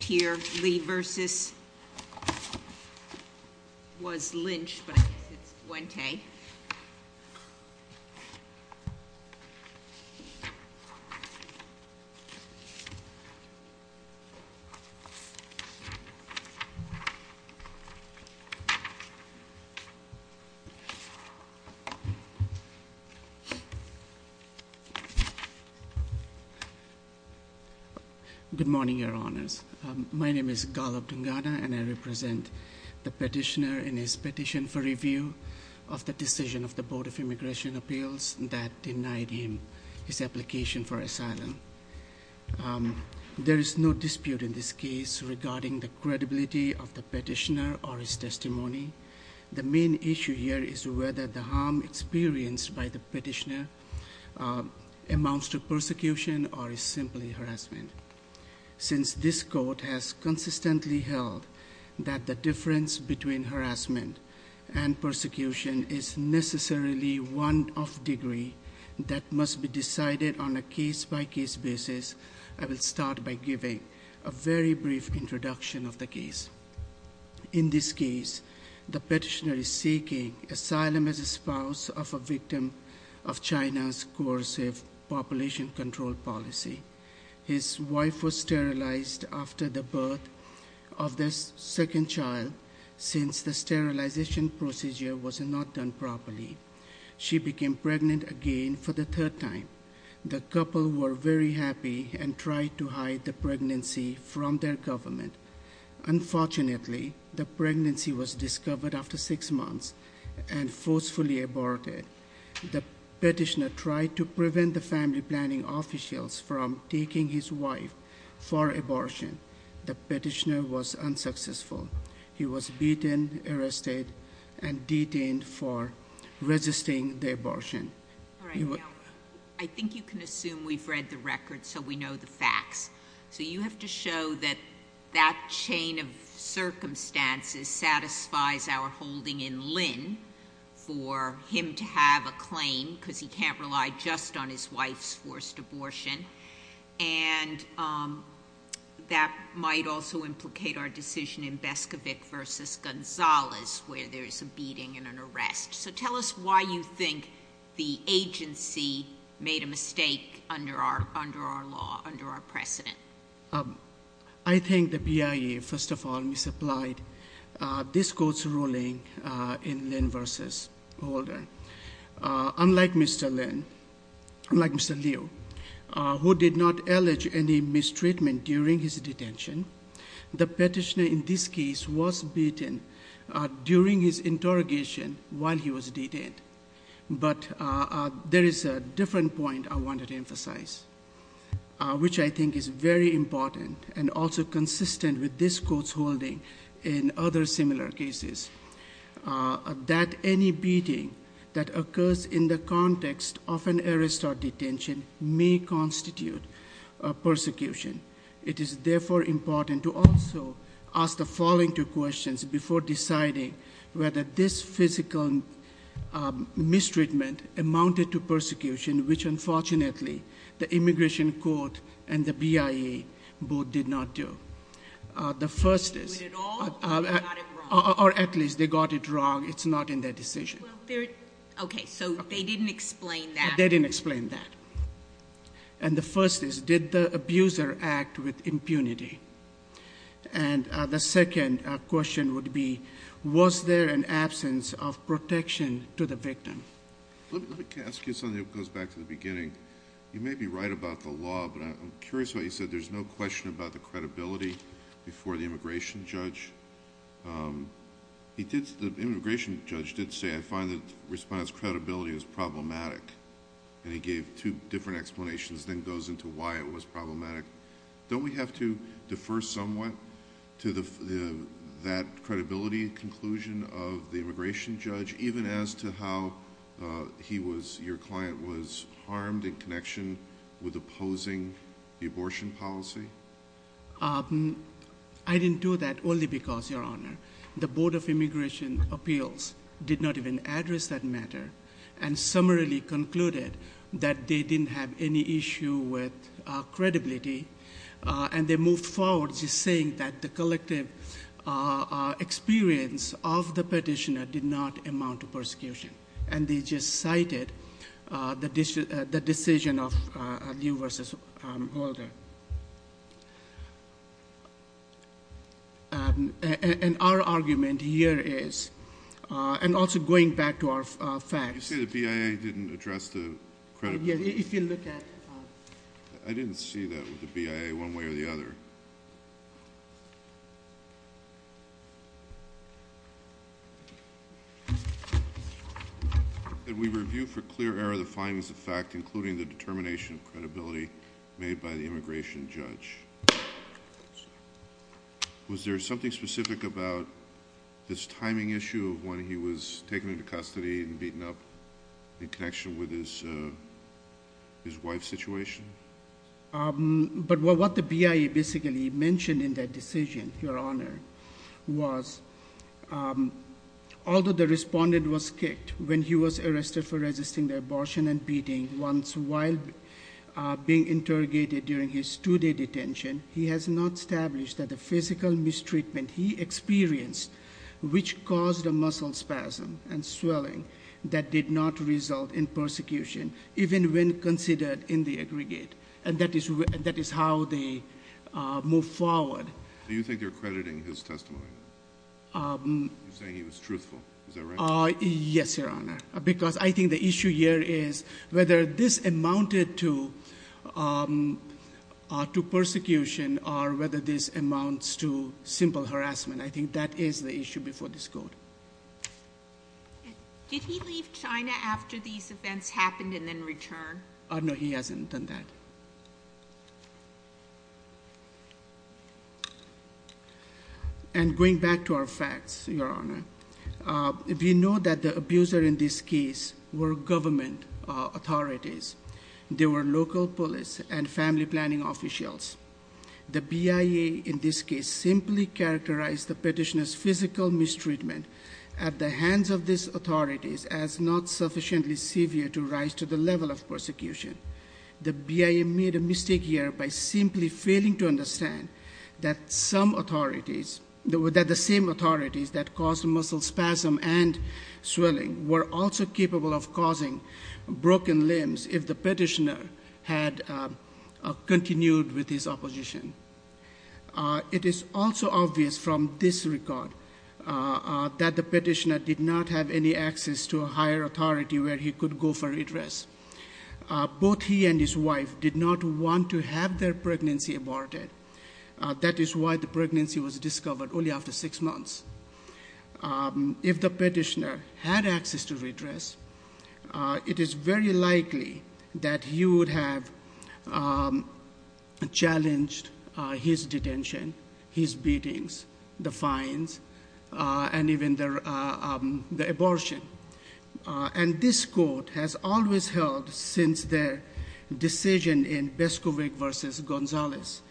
here, Lee versus was Lynch, but it's one day. Good morning, your honors. My name is Gallup Dungana, and I represent the petitioner in his petition for review of the decision of the Board of Immigration Appeals that denied him his application for asylum. There is no dispute in this case regarding the credibility of the petitioner or his testimony. The main issue here is whether the harm experienced by the petitioner amounts to persecution or is simply harassment. Since this court has consistently held that the difference between harassment and persecution is necessarily one of degree that must be decided on a case by case basis. I will start by giving a very brief introduction of the case. In this case, the petitioner is seeking asylum as a spouse of a victim of China's coercive population control policy. His wife was sterilized after the birth of their second child since the sterilization procedure was not done properly. She became pregnant again for the third time. The couple were very happy and tried to hide the pregnancy from their government. Unfortunately, the pregnancy was discovered after six months and forcefully aborted. The petitioner tried to prevent the family planning officials from taking his wife for abortion. The petitioner was unsuccessful. He was beaten, arrested, and detained for resisting the abortion. All right, now, I think you can assume we've read the record, so we know the facts. So you have to show that that chain of circumstances satisfies our holding in Lynn for him to have a claim because he can't rely just on his wife's forced abortion. And that might also implicate our decision in Beskovic versus Gonzalez, where there's a beating and an arrest. So tell us why you think the agency made a mistake under our law, under our precedent. I think the BIA, first of all, misapplied this court's ruling in Lynn versus Holder. Unlike Mr. Lynn, like Mr. Liu, who did not allege any mistreatment during his detention, the petitioner in this case was beaten during his interrogation while he was detained. But there is a different point I wanted to emphasize, which I think is very important and also consistent with this court's holding in other similar cases. That any beating that occurs in the context of an arrest or detention may constitute a persecution. It is therefore important to also ask the following two questions before deciding whether this physical mistreatment amounted to persecution, which unfortunately the Immigration Court and the BIA both did not do. The first is- They did it all or they got it wrong? Or at least they got it wrong, it's not in their decision. Okay, so they didn't explain that. They didn't explain that. And the first is, did the abuser act with impunity? And the second question would be, was there an absence of protection to the victim? Let me ask you something that goes back to the beginning. You may be right about the law, but I'm curious why you said there's no question about the credibility before the immigration judge. The immigration judge did say, I find that response credibility is problematic. And he gave two different explanations, then goes into why it was problematic. Don't we have to defer somewhat to that credibility conclusion of the immigration judge, even as to how he was, your client, was harmed in connection with opposing the abortion policy? I didn't do that only because, Your Honor, the Board of Immigration Appeals did not even address that matter. And summarily concluded that they didn't have any issue with credibility. And they moved forward just saying that the collective experience of the petitioner did not amount to persecution. And they just cited the decision of Liu versus Holder. And our argument here is, and also going back to our facts. You say the BIA didn't address the credibility? Yeah, if you look at. I didn't see that with the BIA one way or the other. Did we review for clear error the findings of fact including the determination of credibility made by the immigration judge? Was there something specific about this timing issue of when he was taken into custody and beaten up in connection with his wife's situation? But what the BIA basically mentioned in that decision, Your Honor, was although the respondent was kicked when he was arrested for resisting the abortion and being interrogated during his two-day detention, he has not established that the physical mistreatment he experienced, which caused a muscle spasm and swelling, that did not result in persecution, even when considered in the aggregate. And that is how they move forward. Do you think they're crediting his testimony? You're saying he was truthful, is that right? Yes, Your Honor. Because I think the issue here is whether this amounted to persecution or whether this amounts to simple harassment. I think that is the issue before this court. Did he leave China after these events happened and then return? No, he hasn't done that. And going back to our facts, Your Honor, we know that the abuser in this case were government authorities. They were local police and family planning officials. The BIA in this case simply characterized the petitioner's physical mistreatment at the hands of these authorities as not sufficiently severe to rise to the level of persecution. The BIA made a mistake here by simply failing to understand that some authorities, that the same authorities that caused muscle spasm and swelling were also capable of causing broken limbs if the petitioner had continued with his opposition. It is also obvious from this record that the petitioner did not have any access to a higher authority where he could go for redress. Both he and his wife did not want to have their pregnancy aborted. That is why the pregnancy was discovered only after six months. If the petitioner had access to redress, it is very likely that he would have challenged his detention, his beatings, the fines, and even the abortion. And this court has always held since their decision in Beskovic versus Gonzalez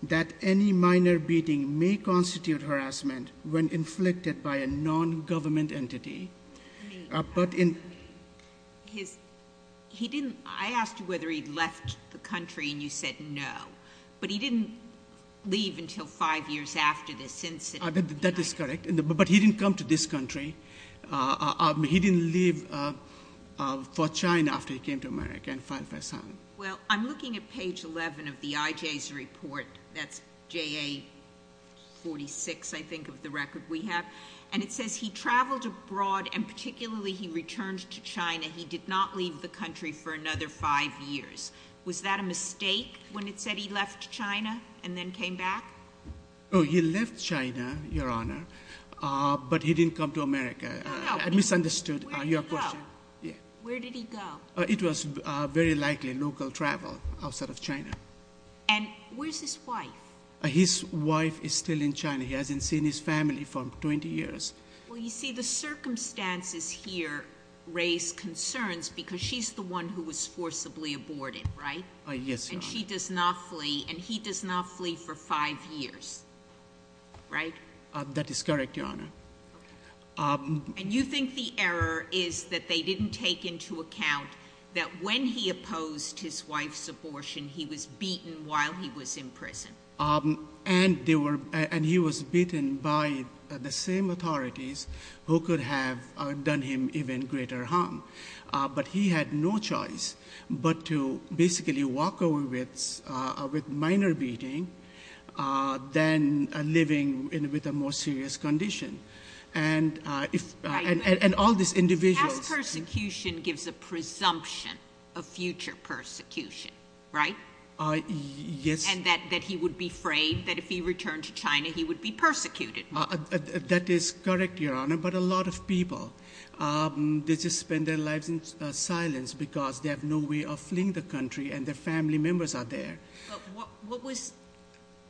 that any minor beating may constitute harassment when inflicted by a non-government entity. But in- He didn't, I asked you whether he left the country and you said no. But he didn't leave until five years after this incident. That is correct, but he didn't come to this country. He didn't leave for China after he came to America and filed for asylum. Well, I'm looking at page 11 of the IJ's report. That's JA 46, I think, of the record we have. And it says he traveled abroad, and particularly he returned to China. He did not leave the country for another five years. Was that a mistake when it said he left China and then came back? He left China, Your Honor, but he didn't come to America. I misunderstood your question. Where did he go? It was very likely local travel outside of China. And where's his wife? His wife is still in China. He hasn't seen his family for 20 years. Well, you see, the circumstances here raise concerns because she's the one who was forcibly aborted, right? Yes, Your Honor. And she does not flee, and he does not flee for five years, right? That is correct, Your Honor. And you think the error is that they didn't take into account that when he opposed his wife's abortion, he was beaten while he was in prison? And he was beaten by the same authorities who could have done him even greater harm. But he had no choice but to basically walk away with minor beating, than living with a more serious condition. And all these individuals- Past persecution gives a presumption of future persecution, right? Yes. And that he would be frayed, that if he returned to China, he would be persecuted. That is correct, Your Honor. But a lot of people, they just spend their lives in silence because they have no way of fleeing the country and their family members are there. What was,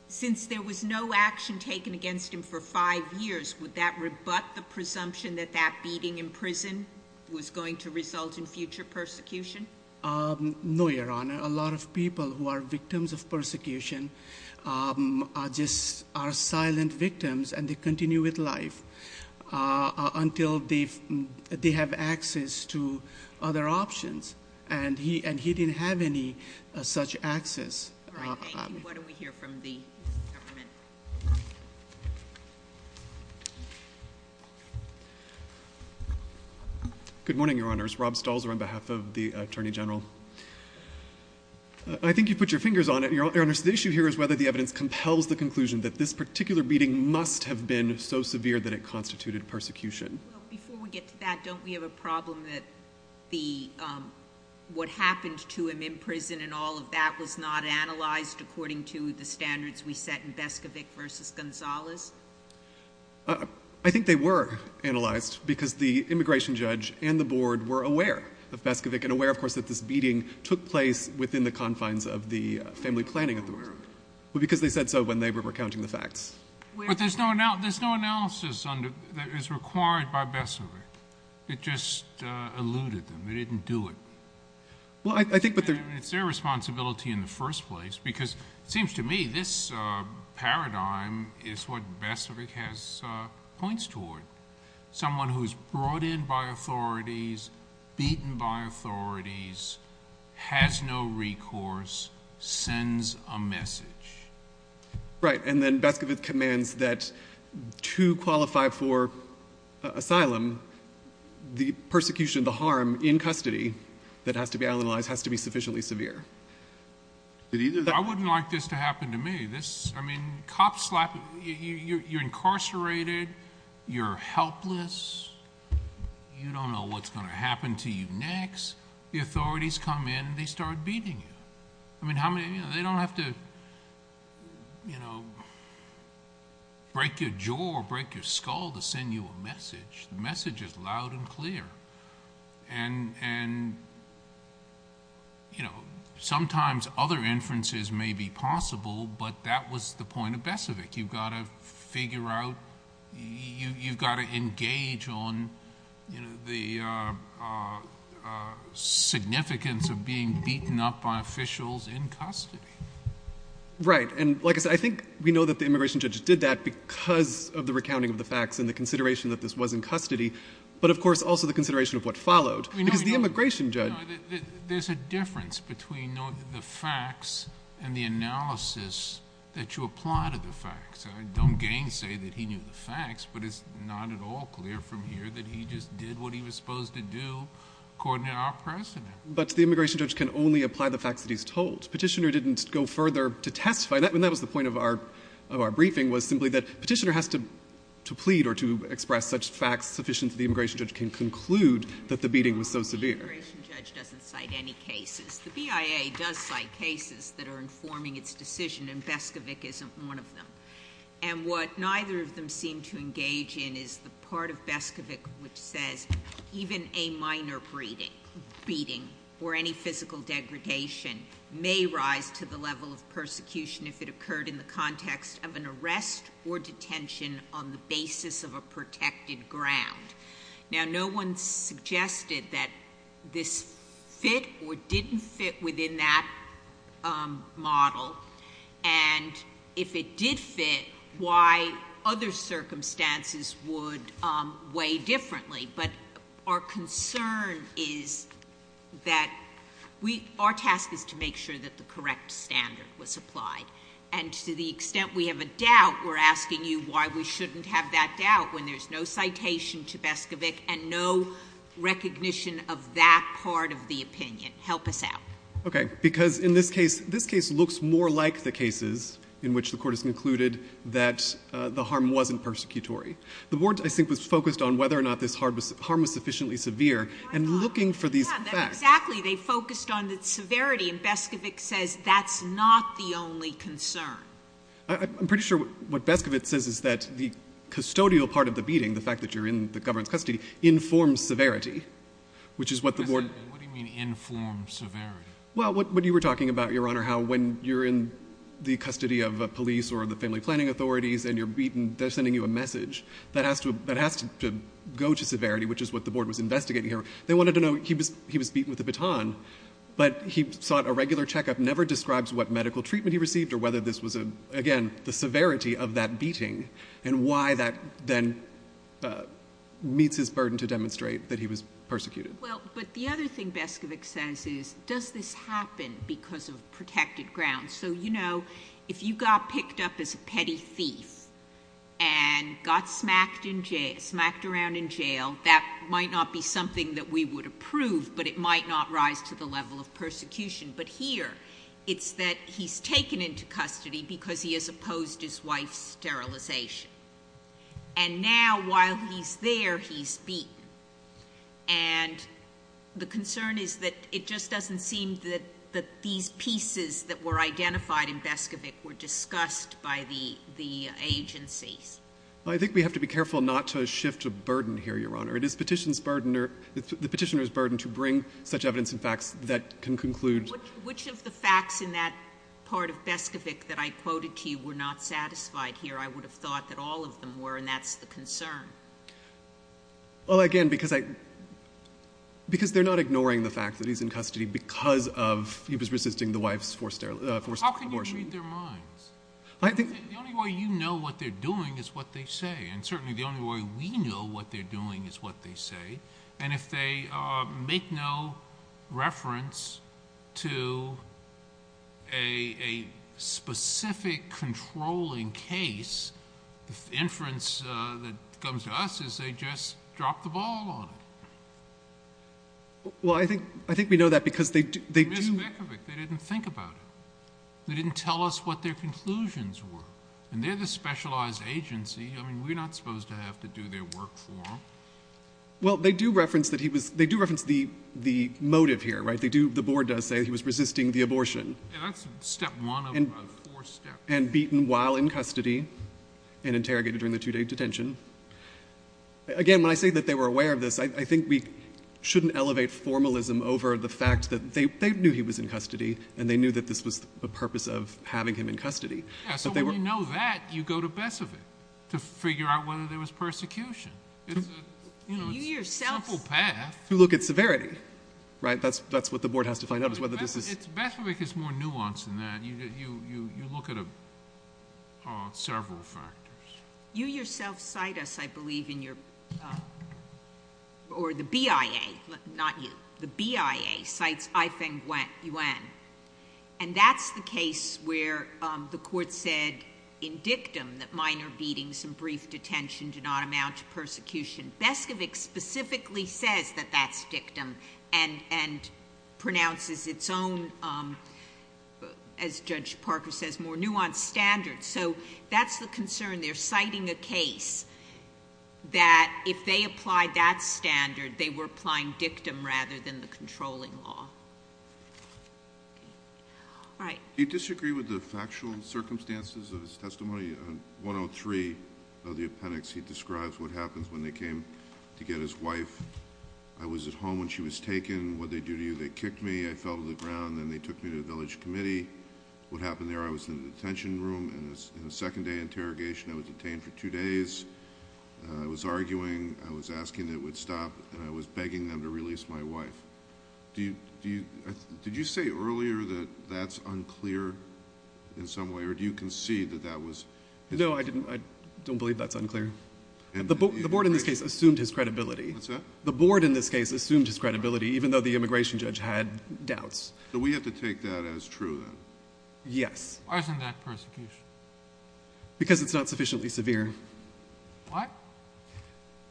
since there was no action taken against him for five years, would that rebut the presumption that that beating in prison was going to result in future persecution? No, Your Honor. A lot of people who are victims of persecution are just silent victims and they continue with life until they have access to other options. And he didn't have any such access. All right, thank you. Why don't we hear from the government? Good morning, Your Honors. Rob Stalzer on behalf of the Attorney General. I think you put your fingers on it, Your Honors. The issue here is whether the evidence compels the conclusion that this particular beating must have been so severe that it constituted persecution. Before we get to that, don't we have a problem that what happened to him in prison and all of that was not analyzed according to the standards we set in Beskovic versus Gonzalez? I think they were analyzed because the immigration judge and the board were aware of Beskovic and aware, of course, that this beating took place within the confines of the family planning authority. Well, because they said so when they were recounting the facts. But there's no analysis that is required by Beskovic. It just eluded them. It didn't do it. It's their responsibility in the first place because it seems to me this paradigm is what Beskovic has points toward. Someone who's brought in by authorities, beaten by authorities, has no recourse, sends a message. Right, and then Beskovic commands that to qualify for asylum, the persecution of the harm in custody that has to be analyzed has to be sufficiently severe. I wouldn't like this to happen to me. This, I mean, cop slap, you're incarcerated, you're helpless. You don't know what's going to happen to you next. The authorities come in and they start beating you. I mean, they don't have to break your jaw or break your skull to send you a message. The message is loud and clear. And sometimes other inferences may be possible, but that was the point of Beskovic. You've got to figure out, you've got to engage on the significance of being beaten up by officials in custody. Right, and like I said, I think we know that the immigration judge did that because of the recounting of the facts and the consideration that this was in custody. But of course, also the consideration of what followed, because the immigration judge- There's a difference between the facts and the analysis that you apply to the facts. I don't gainsay that he knew the facts, but it's not at all clear from here that he just did what he was supposed to do according to our precedent. But the immigration judge can only apply the facts that he's told. Petitioner didn't go further to testify, and that was the point of our briefing, was simply that petitioner has to plead or to express such facts sufficient that the immigration judge can conclude that the beating was so severe. The immigration judge doesn't cite any cases. The BIA does cite cases that are informing its decision, and Beskovic isn't one of them. And what neither of them seem to engage in is the part of Beskovic which says, even a minor beating or any physical degradation may rise to the level of persecution if it occurred in the context of an arrest or detention on the basis of a protected ground. Now, no one suggested that this fit or didn't fit within that model. And if it did fit, why other circumstances would weigh differently. But our concern is that, our task is to make sure that the correct standard was applied. And to the extent we have a doubt, we're asking you why we shouldn't have that doubt when there's no citation to Beskovic and no recognition of that part of the opinion. Help us out. Okay, because in this case, this case looks more like the cases in which the court has concluded that the harm wasn't persecutory. The board, I think, was focused on whether or not this harm was sufficiently severe. And looking for these facts. Exactly, they focused on the severity, and Beskovic says that's not the only concern. I'm pretty sure what Beskovic says is that the custodial part of the beating, the fact that you're in the government's custody, informs severity. Which is what the board- What do you mean, informs severity? Well, what you were talking about, Your Honor, how when you're in the custody of a police or the family planning authorities and you're beaten, they're sending you a message that has to go to severity, which is what the board was investigating here. They wanted to know, he was beaten with a baton, but he sought a regular checkup. Never describes what medical treatment he received or whether this was, again, the severity of that beating. And why that then meets his burden to demonstrate that he was persecuted. Well, but the other thing Beskovic says is, does this happen because of protected grounds? So, you know, if you got picked up as a petty thief and got smacked around in jail, that might not be something that we would approve, but it might not rise to the level of persecution, but here, it's that he's taken into custody because he has opposed his wife's sterilization. And now, while he's there, he's beaten, and the concern is that it just doesn't seem that these pieces that were identified in Beskovic were discussed by the agencies. I think we have to be careful not to shift a burden here, Your Honor. It is the petitioner's burden to bring such evidence and facts that can conclude- Which of the facts in that part of Beskovic that I quoted to you were not satisfied here? I would have thought that all of them were, and that's the concern. Well, again, because they're not ignoring the fact that he's in custody because he was resisting the wife's forced abortion. How can you read their minds? The only way you know what they're doing is what they say, and certainly the only way we know what they're doing is what they say. And if they make no reference to a specific controlling case, the inference that comes to us is they just dropped the ball on it. Well, I think we know that because they do- They didn't tell us what their conclusions were, and they're the specialized agency. I mean, we're not supposed to have to do their work for them. Well, they do reference the motive here, right? The board does say he was resisting the abortion. Yeah, that's step one of four steps. And beaten while in custody and interrogated during the two-day detention. Again, when I say that they were aware of this, I think we shouldn't elevate formalism over the fact that they knew he was in custody and they knew that this was the purpose of having him in custody. Yeah, so when you know that, you go to Besovic to figure out whether there was persecution. It's a simple path. You look at severity, right? That's what the board has to find out is whether this is- Besovic is more nuanced than that. You look at several factors. You yourself cite us, I believe, in your, or the BIA, not you, the BIA, cites I-Feng Yuan. And that's the case where the court said in dictum that minor beatings and brief detention do not amount to persecution. Besovic specifically says that that's dictum and pronounces its own, as Judge Parker says, more nuanced standards. So that's the concern. They're citing a case that if they applied that standard, they were applying dictum rather than the controlling law. All right. Do you disagree with the factual circumstances of his testimony on 103 of the appendix? He describes what happens when they came to get his wife. I was at home when she was taken. What did they do to you? They kicked me, I fell to the ground, then they took me to the village committee. What happened there, I was in the detention room in a second day interrogation. I was detained for two days. I was arguing, I was asking that it would stop, and I was begging them to release my wife. Did you say earlier that that's unclear in some way, or do you concede that that was? No, I don't believe that's unclear. The board in this case assumed his credibility. What's that? The board in this case assumed his credibility, even though the immigration judge had doubts. So we have to take that as true, then? Yes. Why isn't that persecution? Because it's not sufficiently severe. What?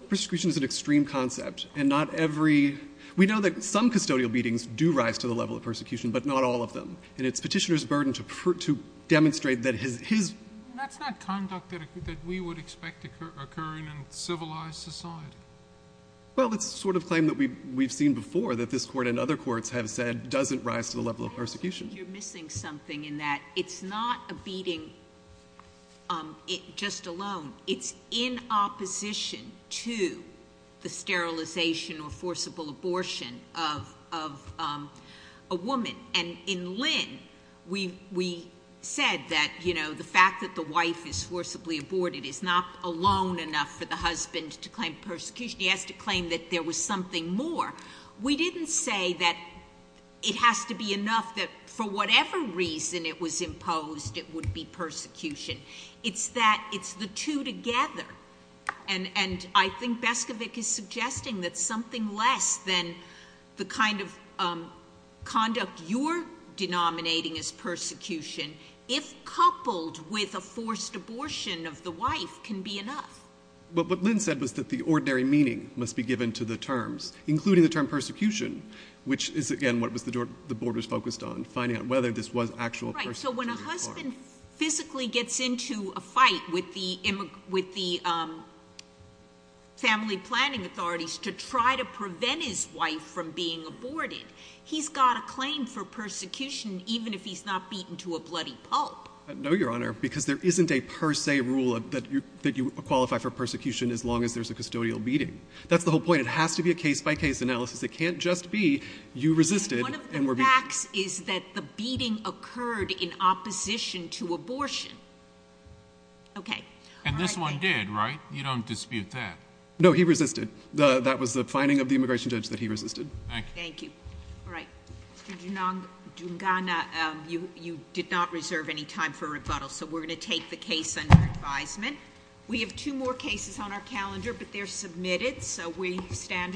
Persecution is an extreme concept. And not every, we know that some custodial beatings do rise to the level of persecution, but not all of them. And it's Petitioner's burden to demonstrate that his. That's not conduct that we would expect to occur in a civilized society. Well, it's the sort of claim that we've seen before, that this court and other courts have said doesn't rise to the level of persecution. You're missing something in that. It's not a beating just alone. It's in opposition to the sterilization or forcible abortion of a woman. And in Lynn, we said that the fact that the wife is forcibly aborted is not alone enough for the husband to claim persecution. He has to claim that there was something more. We didn't say that it has to be enough that for whatever reason it was imposed, it would be persecution. It's that it's the two together. And I think Bescovic is suggesting that something less than the kind of conduct you're denominating as persecution, if coupled with a forced abortion of the wife, can be enough. But what Lynn said was that the ordinary meaning must be given to the terms, including the term persecution, which is, again, what the board was focused on, finding out whether this was actual persecution or not. Right, so when a husband physically gets into a fight with the family planning authorities to try to prevent his wife from being aborted, he's got a claim for persecution even if he's not beaten to a bloody pulp. No, Your Honor, because there isn't a per se rule that you qualify for persecution as long as there's a custodial beating. That's the whole point. It has to be a case by case analysis. It can't just be you resisted and were beaten. One of the facts is that the beating occurred in opposition to abortion. Okay. And this one did, right? You don't dispute that. No, he resisted. That was the finding of the immigration judge that he resisted. Thank you. Thank you. All right. Mr. Dungana, you did not reserve any time for rebuttal, so we're going to take the case under advisement. We have two more cases on our calendar, but they're submitted. So we stand adjourned.